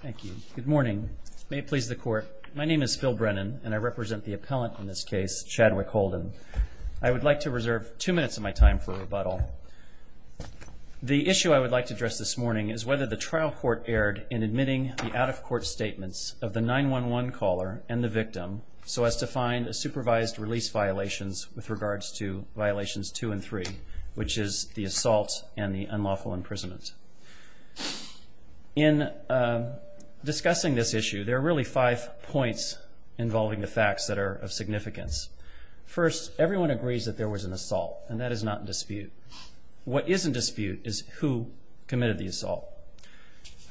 Thank you. Good morning. May it please the court. My name is Phil Brennan, and I represent the appellant in this case, Chadwick Holden. I would like to reserve two minutes of my time for rebuttal. The issue I would like to address this morning is whether the trial court erred in admitting the out-of-court statements of the 911 caller and the victim so as to find a supervised release violations with regards to Violations 2 and 3, which is the assault and the unlawful imprisonment. In discussing this issue, there are really five points involving the facts that are of significance. First, everyone agrees that there was an assault, and that is not in dispute. What is in dispute is who committed the assault.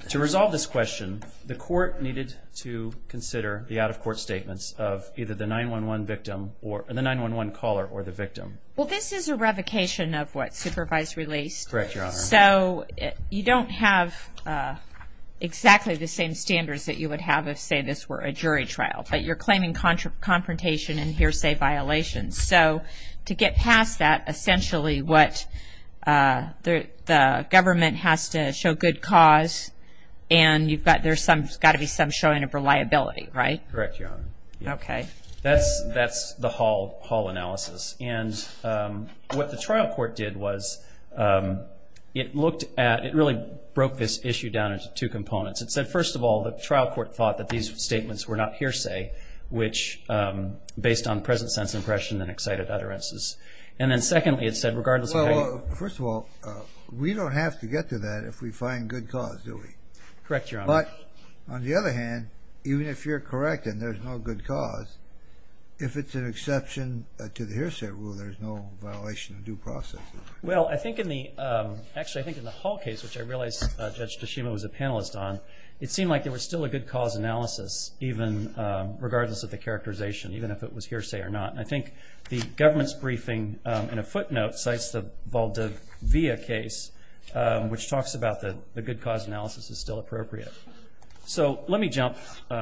To resolve this question, the court needed to consider the out-of-court statements of either the 911 caller or the victim. Well, this is a revocation of what's supervised release. Correct, Your Honor. So, you don't have exactly the same standards that you would have if, say, this were a jury trial, but you're claiming confrontation and hearsay violations. So, to get past that, essentially, the government has to show good cause, and there's got to be some showing of reliability, right? Correct, Your Honor. Okay. That's the Hall analysis. And what the trial court did was it looked at – it really broke this issue down into two components. It said, first of all, the trial court thought that these statements were not hearsay, which – based on present sense impression and excited utterances. And then, secondly, it said regardless of how you – Well, first of all, we don't have to get to that if we find good cause, do we? Correct, Your Honor. But, on the other hand, even if you're correct and there's no good cause, if it's an exception to the hearsay rule, there's no violation of due process. Well, I think in the – actually, I think in the Hall case, which I realize Judge Toshima was a panelist on, it seemed like there was still a good cause analysis, even – regardless of the characterization, even if it was hearsay or not. I think the government's briefing in a footnote cites the Valdivia case, which talks about the good cause analysis is still appropriate. So let me jump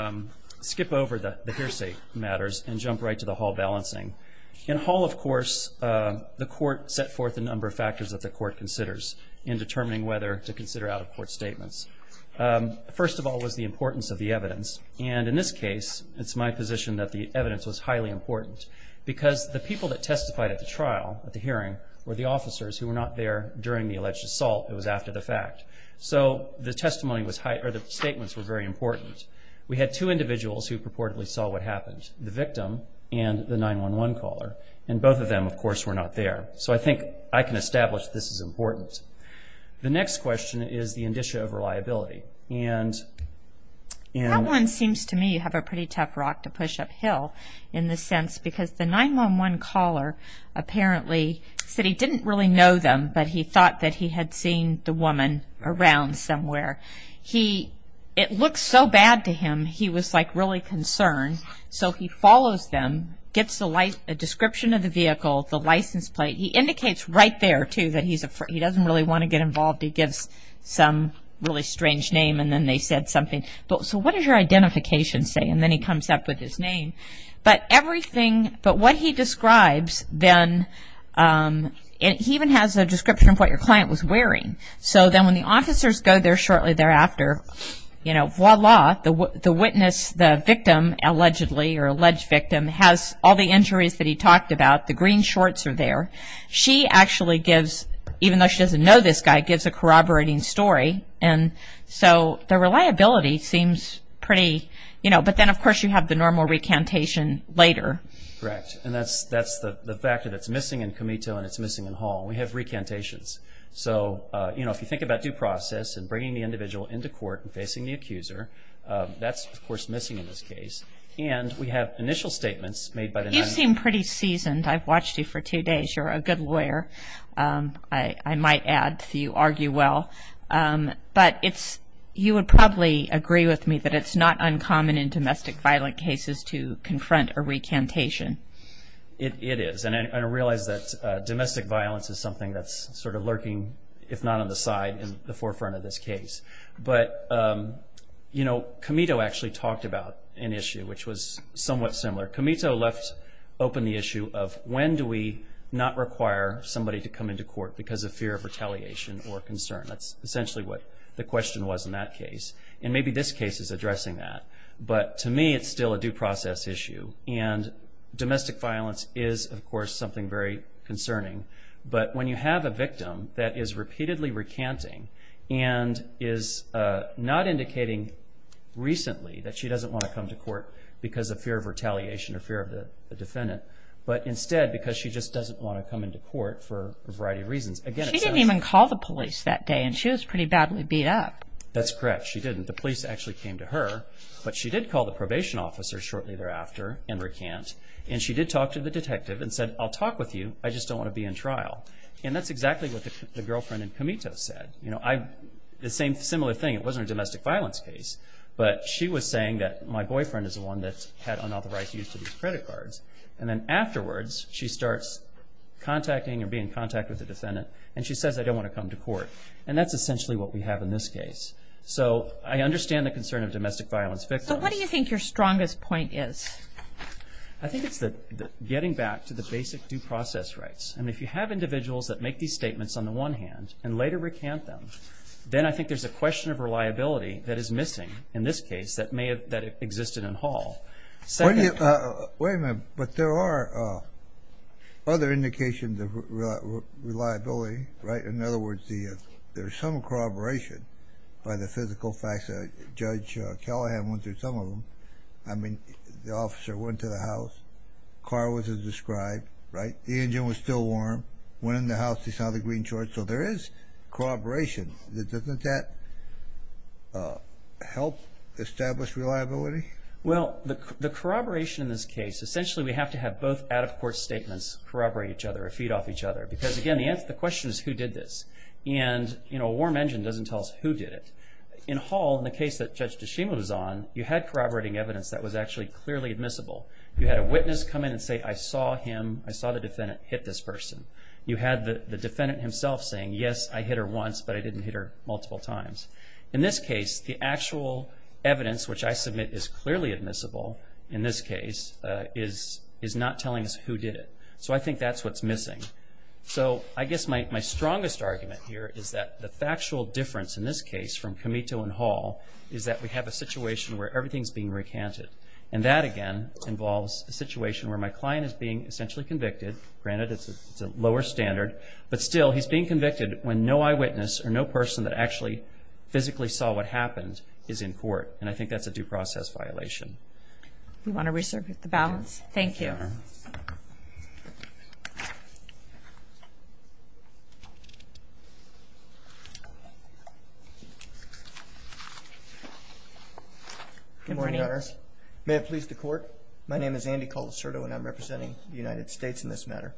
– skip over the hearsay matters and jump right to the Hall balancing. In Hall, of course, the court set forth a number of factors that the court considers in determining whether to consider out-of-court statements. First of all was the importance of the evidence. And in this case, it's my position that the evidence was highly important, because the people that testified at the trial, at the hearing, were the officers who were not there during the alleged assault. It was after the fact. So the testimony was – or the statements were very important. We had two individuals who purportedly saw what happened, the victim and the 911 caller. And both of them, of course, were not there. So I think I can establish this is important. The next question is the indicia of reliability. That one seems to me you have a pretty tough rock to push uphill in this sense, because the 911 caller apparently said he didn't really know them, but he thought that he had seen the woman around somewhere. He – it looked so bad to him, he was, like, really concerned. So he follows them, gets a description of the vehicle, the license plate. He indicates right there, too, that he's – he doesn't really want to get involved. He gives some really strange name, and then they said something. So what does your identification say? And then he comes up with his name. But everything – but what he describes then – he even has a description of what your client was wearing. So then when the officers go there shortly thereafter, you know, voila, the witness, the victim, allegedly, or alleged victim, has all the injuries that he talked about. The green shorts are there. She actually gives – even though she doesn't know this guy – gives a corroborating story. And so the reliability seems pretty – you know, but then, of course, you have the normal recantation later. Correct. And that's the factor that's missing in Comito and it's missing in Hall. We have recantations. So, you know, if you think about due process and bringing the individual into court and facing the accuser, that's, of course, missing in this case. And we have initial statements made by the 911. You seem pretty seasoned. I've watched you for two days. You're a good lawyer, I might add, so you argue well. But it's – you would probably agree with me that it's not uncommon in domestic violent cases to confront a recantation. It is. And I realize that domestic violence is something that's sort of lurking, if not on the side, in the forefront of this case. But, you know, Comito actually talked about an issue which was somewhat similar. Comito left open the issue of when do we not require somebody to come into court because of fear of retaliation or concern. That's essentially what the question was in that case. And maybe this case is addressing that. But, to me, it's still a due process issue. And domestic violence is, of course, something very concerning. But when you have a victim that is repeatedly recanting and is not indicating recently that she doesn't want to come to court because of fear of retaliation or fear of the defendant, but instead because she just doesn't want to come into court for a variety of reasons. She didn't even call the police that day, and she was pretty badly beat up. That's correct. She didn't. The police actually came to her, but she did call the probation officer shortly thereafter and recant. And she did talk to the detective and said, I'll talk with you. I just don't want to be in trial. And that's exactly what the girlfriend in Comito said. You know, the same similar thing. It wasn't a domestic violence case. But she was saying that my boyfriend is the one that had unauthorized use of these credit cards. And then afterwards, she starts contacting or being in contact with the defendant, and she says, I don't want to come to court. And that's essentially what we have in this case. So I understand the concern of domestic violence victims. So what do you think your strongest point is? I think it's getting back to the basic due process rights. And if you have individuals that make these statements on the one hand and later recant them, then I think there's a question of reliability that is missing in this case that existed in Hall. Wait a minute. But there are other indications of reliability, right? In other words, there's some corroboration by the physical facts. Judge Callahan went through some of them. I mean, the officer went to the house. The car was as described, right? The engine was still warm. Went in the house. He saw the green shorts. So there is corroboration. Doesn't that help establish reliability? Well, the corroboration in this case, essentially we have to have both out-of-court statements corroborate each other or feed off each other. Because, again, the question is who did this. And, you know, a warm engine doesn't tell us who did it. In Hall, in the case that Judge DeShima was on, you had corroborating evidence that was actually clearly admissible. You had a witness come in and say, I saw him, I saw the defendant hit this person. You had the defendant himself saying, yes, I hit her once, but I didn't hit her multiple times. In this case, the actual evidence, which I submit is clearly admissible in this case, is not telling us who did it. So I think that's what's missing. So I guess my strongest argument here is that the factual difference in this case from Camito and Hall is that we have a situation where everything is being recanted. And that, again, involves a situation where my client is being essentially convicted. Granted, it's a lower standard. But still, he's being convicted when no eyewitness or no person that actually physically saw what happened is in court. And I think that's a due process violation. Do you want to resurrect the balance? Thank you. Good morning, Your Honor. Good morning, Your Honor. May it please the Court. My name is Andy Colacerto, and I'm representing the United States in this matter.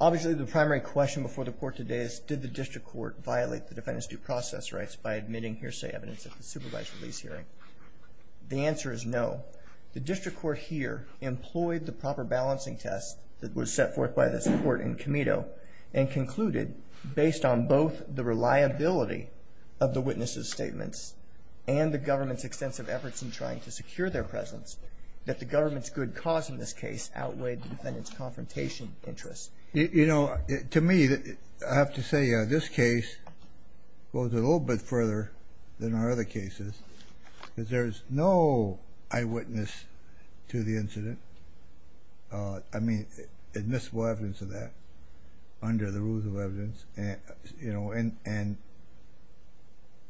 Obviously, the primary question before the Court today is, did the district court violate the defendant's due process rights by admitting hearsay evidence at the supervised release hearing? The answer is no. The district court here employed the proper balancing test that was set forth by this Court in Camito and concluded, based on both the reliability of the witnesses' statements and the government's extensive efforts in trying to secure their presence, that the government's good cause in this case outweighed the defendant's confrontation interests. You know, to me, I have to say this case goes a little bit further than our other cases because there's no eyewitness to the incident. I mean, admissible evidence of that under the rules of evidence. And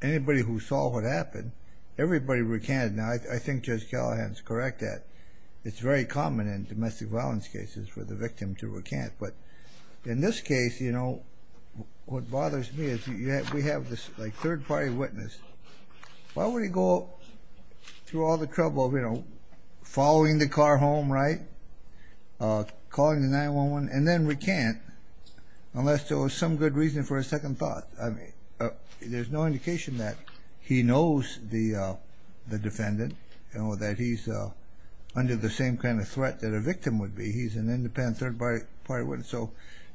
anybody who saw what happened, everybody recanted. Now, I think Judge Callahan is correct that it's very common in domestic violence cases for the victim to recant. But in this case, you know, what bothers me is we have this third-party witness. Why would he go through all the trouble of, you know, following the car home, right, calling the 911, and then recant unless there was some good reason for a second thought? I mean, there's no indication that he knows the defendant or that he's under the same kind of threat that a victim would be. He's an independent third-party witness. So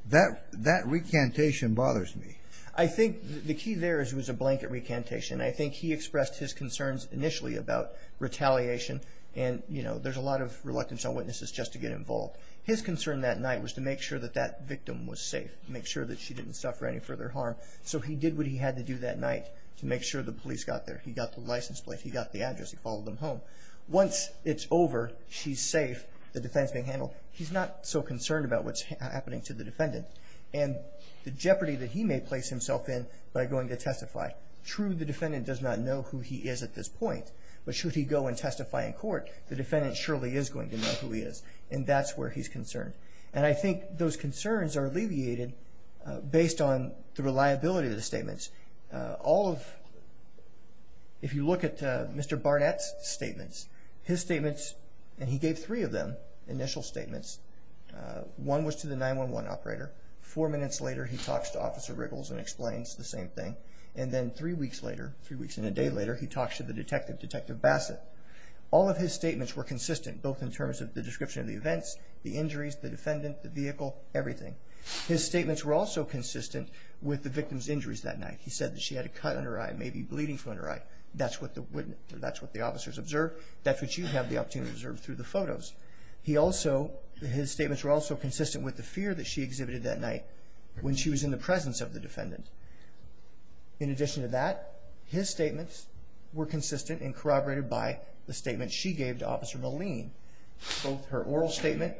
that recantation bothers me. I think the key there is it was a blanket recantation. I think he expressed his concerns initially about retaliation. And, you know, there's a lot of reluctant witnesses just to get involved. His concern that night was to make sure that that victim was safe, make sure that she didn't suffer any further harm. So he did what he had to do that night to make sure the police got there. He got the license plate. He got the address. He followed them home. Once it's over, she's safe, the defense being handled. He's not so concerned about what's happening to the defendant. And the jeopardy that he may place himself in by going to testify. True, the defendant does not know who he is at this point, but should he go and testify in court, the defendant surely is going to know who he is. And that's where he's concerned. And I think those concerns are alleviated based on the reliability of the statements. All of, if you look at Mr. Barnett's statements, his statements, and he gave three of them initial statements. One was to the 911 operator. Four minutes later, he talks to Officer Riggles and explains the same thing. And then three weeks later, three weeks and a day later, he talks to the detective, Detective Bassett. All of his statements were consistent, both in terms of the description of the events, the injuries, the defendant, the vehicle, everything. His statements were also consistent with the victim's injuries that night. He said that she had a cut on her eye, maybe bleeding from her eye. That's what you have the opportunity to observe through the photos. He also, his statements were also consistent with the fear that she exhibited that night when she was in the presence of the defendant. In addition to that, his statements were consistent and corroborated by the statement she gave to Officer Moline, both her oral statement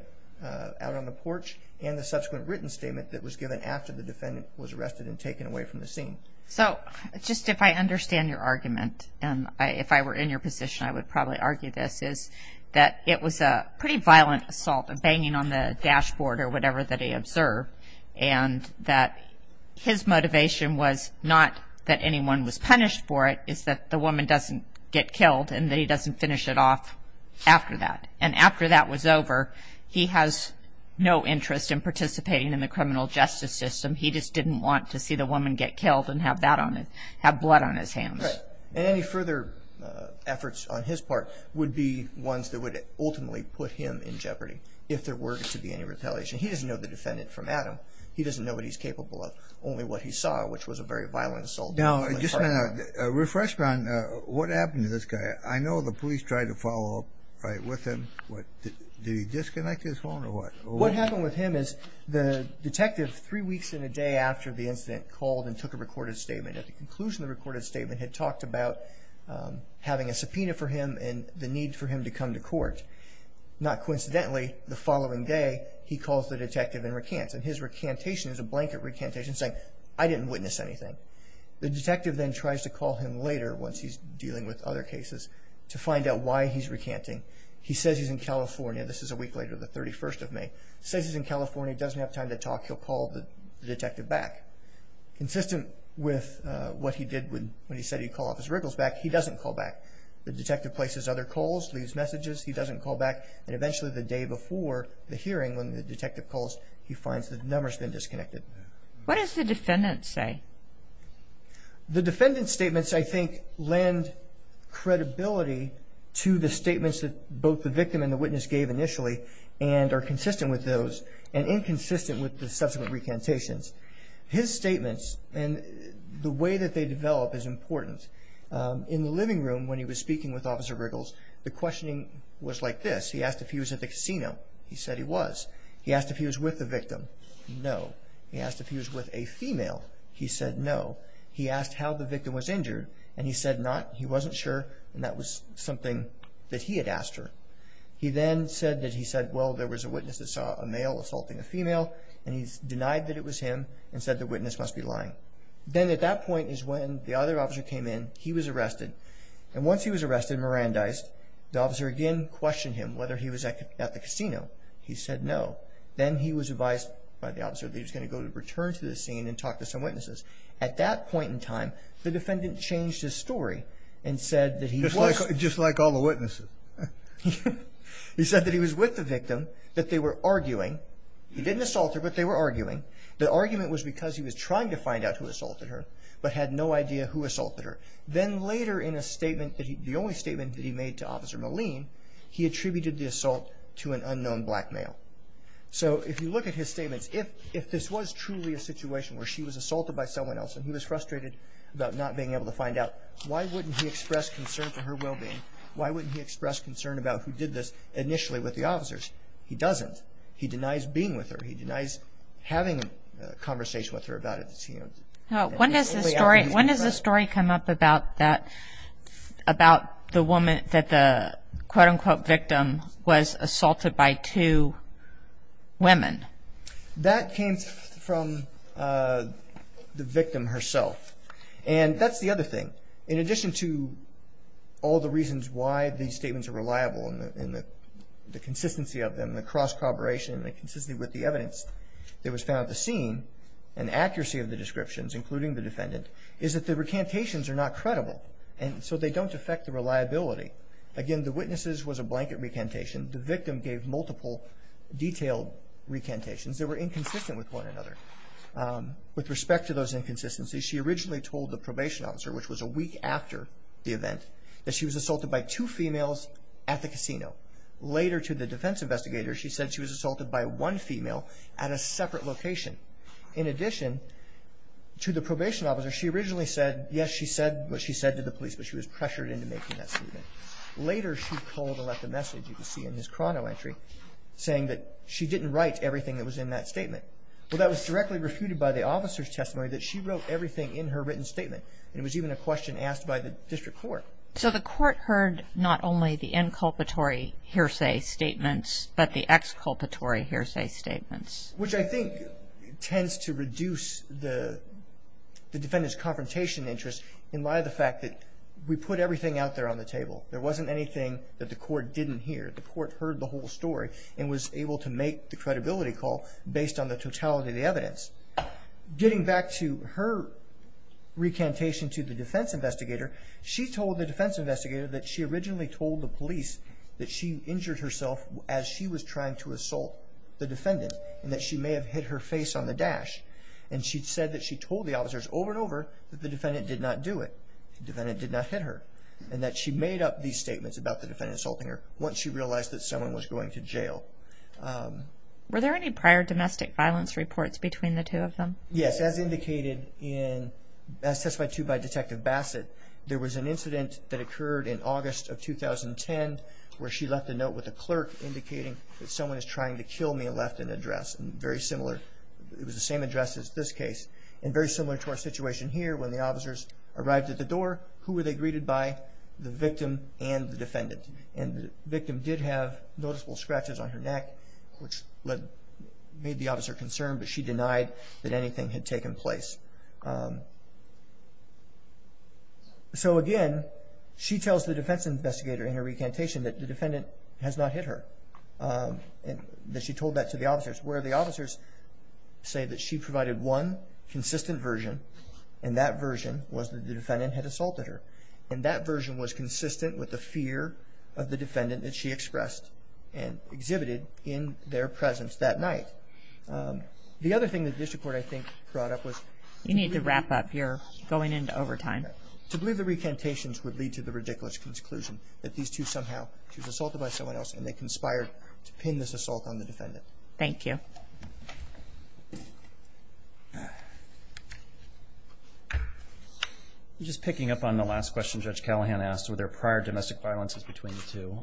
out on the porch and the subsequent written statement that was given after the defendant was arrested and taken away from the scene. So, just if I understand your argument, and if I were in your position I would probably argue this, is that it was a pretty violent assault, a banging on the dashboard or whatever that he observed, and that his motivation was not that anyone was punished for it, it's that the woman doesn't get killed and that he doesn't finish it off after that. And after that was over, he has no interest in participating in the criminal justice system. He just didn't want to see the woman get killed and have blood on his hands. Right. And any further efforts on his part would be ones that would ultimately put him in jeopardy if there were to be any repellation. He doesn't know the defendant from Adam. He doesn't know what he's capable of, only what he saw, which was a very violent assault. Now, just a refreshment on what happened to this guy. I know the police tried to follow up with him. Did he disconnect his phone or what? What happened with him is the detective, three weeks and a day after the incident, called and took a recorded statement. At the conclusion of the recorded statement, he had talked about having a subpoena for him and the need for him to come to court. Not coincidentally, the following day, he calls the detective and recants, and his recantation is a blanket recantation saying, I didn't witness anything. The detective then tries to call him later, once he's dealing with other cases, to find out why he's recanting. He says he's in California. This is a week later, the 31st of May. Says he's in California, doesn't have time to talk. He'll call the detective back. Consistent with what he did when he said he'd call off his wriggles back, he doesn't call back. The detective places other calls, leaves messages. He doesn't call back. And eventually, the day before the hearing, when the detective calls, he finds the number's been disconnected. What does the defendant say? The defendant's statements, I think, lend credibility to the statements that both the victim and the witness gave initially and are consistent with those and inconsistent with the subsequent recantations. His statements and the way that they develop is important. In the living room, when he was speaking with Officer Wriggles, the questioning was like this. He asked if he was at the casino. He said he was. He asked if he was with the victim. No. He asked if he was with a female. He said no. He asked how the victim was injured, and he said not. He wasn't sure, and that was something that he had asked her. He then said that he said, well, there was a witness that saw a male assaulting a female, and he denied that it was him and said the witness must be lying. Then at that point is when the other officer came in. He was arrested, and once he was arrested and Mirandized, the officer again questioned him whether he was at the casino. He said no. Then he was advised by the officer that he was going to go to return to the scene and talk to some witnesses. At that point in time, the defendant changed his story and said that he was. Just like all the witnesses. He said that he was with the victim, that they were arguing. He didn't assault her, but they were arguing. The argument was because he was trying to find out who assaulted her, but had no idea who assaulted her. Then later in a statement, the only statement that he made to Officer Moline, he attributed the assault to an unknown black male. So if you look at his statements, if this was truly a situation where she was assaulted by someone else and he was frustrated about not being able to find out, why wouldn't he express concern for her well-being? Why wouldn't he express concern about who did this initially with the officers? He doesn't. He denies being with her. He denies having a conversation with her about it. When does the story come up about that, about the woman that the quote-unquote victim was assaulted by two women? That came from the victim herself. And that's the other thing. In addition to all the reasons why these statements are reliable and the consistency of them, the cross-corroboration and the consistency with the evidence that was found at the scene and the accuracy of the descriptions, including the defendant, is that the recantations are not credible. And so they don't affect the reliability. Again, the witnesses was a blanket recantation. The victim gave multiple detailed recantations that were inconsistent with one another. With respect to those inconsistencies, she originally told the probation officer, which was a week after the event, that she was assaulted by two females at the casino. Later, to the defense investigator, she said she was assaulted by one female at a separate location. In addition, to the probation officer, she originally said, yes, she said what she said to the police, but she was pressured into making that statement. Later, she pulled and left a message, you can see in his chrono entry, saying that she didn't write everything that was in that statement. Well, that was directly refuted by the officer's testimony that she wrote everything in her written statement. It was even a question asked by the district court. So the court heard not only the inculpatory hearsay statements, but the exculpatory hearsay statements. Which I think tends to reduce the defendant's confrontation interest in light of the fact that we put everything out there on the table. There wasn't anything that the court didn't hear. The court heard the whole story and was able to make the credibility call based on the totality of the evidence. Getting back to her recantation to the defense investigator, she told the defense investigator that she originally told the police that she injured herself as she was trying to assault the defendant, and that she may have hit her face on the dash. And she said that she told the officers over and over that the defendant did not do it. The defendant did not hit her. And that she made up these statements about the defendant assaulting her once she realized that someone was going to jail. Were there any prior domestic violence reports between the two of them? Yes, as indicated in testified to by Detective Bassett, there was an incident that occurred in August of 2010 where she left a note with a clerk indicating that someone is trying to kill me and left an address very similar. It was the same address as this case and very similar to our situation here when the officers arrived at the door. Who were they greeted by? The victim and the defendant. And the victim did have noticeable scratches on her neck which made the officer concerned, but she denied that anything had taken place. So again, she tells the defense investigator in her recantation that the defendant has not hit her. And that she told that to the officers where the officers say that she provided one consistent version, and that version was that the defendant had assaulted her. And that version was consistent with the fear of the defendant that she expressed and exhibited in their presence that night. The other thing that the district court, I think, brought up was... You need to wrap up. You're going into overtime. ...to believe the recantations would lead to the ridiculous conclusion that these two somehow, she was assaulted by someone else and they conspired to pin this assault on the defendant. Thank you. Just picking up on the last question Judge Callahan asked, were there prior domestic violences between the two?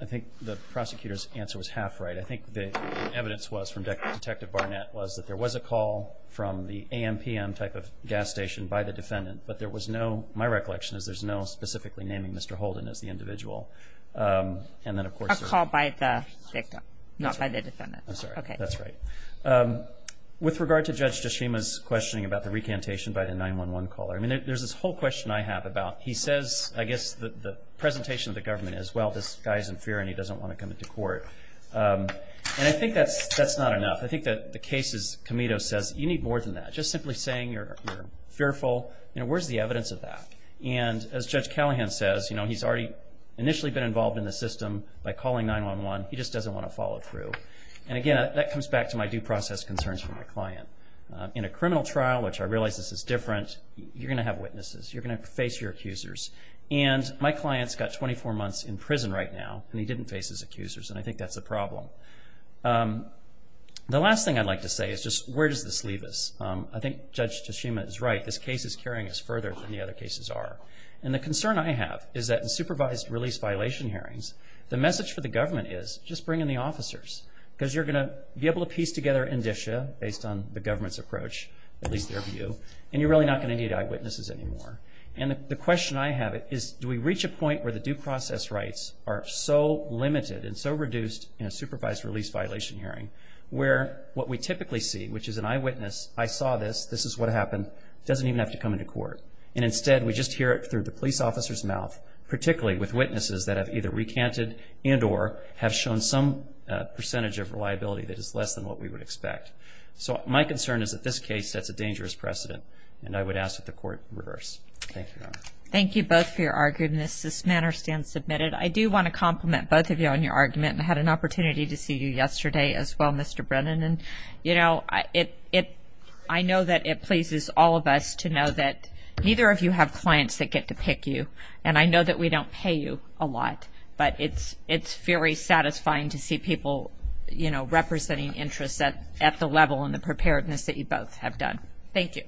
I think the prosecutor's answer was half right. I think the evidence was from Detective Barnett was that there was a call from the AM-PM type of gas station by the defendant, but there was no... My recollection is there's no specifically naming Mr. Holden as the individual. A call by the victim, not by the defendant. I'm sorry. That's right. With regard to Judge Tashima's questioning about the recantation by the 911 caller, there's this whole question I have about... He says, I guess, the presentation of the government is, well, this guy's in fear and he doesn't want to come into court. And I think that's not enough. I think that the case's committee says, you need more than that. Just simply saying you're fearful, where's the evidence of that? And as Judge Callahan says, he's already initially been involved in the system by calling 911. He just doesn't want to follow through. And again, that comes back to my due process concerns for my client. In a criminal trial, which I realize this is different, you're going to have witnesses. You're going to face your accusers. And my client's got 24 months in prison right now, and he didn't face his accusers, and I think that's a problem. The last thing I'd like to say is just, where does this leave us? I think Judge Tashima is right. This case is carrying us further than the other cases are. And the concern I have is that in supervised release violation hearings, the message for the government is, just bring in the officers. Because you're going to be able to piece together indicia, based on the government's approach, at least their view, and you're really not going to need eyewitnesses anymore. And the question I have is, do we reach a point where the due process rights are so limited and so reduced in a supervised release violation hearing, where what we typically see, which is an eyewitness, I saw this, this is what happened, doesn't even have to come into court. And instead, we just hear it through the police officer's mouth, particularly with witnesses that have either recanted and or have shown some percentage of reliability that is less than what we would expect. So my concern is that this case sets a dangerous precedent, and I would ask that the court reverse. Thank you. Thank you both for your arguments. This matter stands submitted. I do want to compliment both of you on your argument. I had an opportunity to see you yesterday as well, Mr. Brennan. And, you know, I know that it pleases all of us to know that neither of you have clients that get to pick you. And I know that we don't pay you a lot, but it's very satisfying to see people, you know, representing interests at the level and the preparedness that you both have done. Thank you.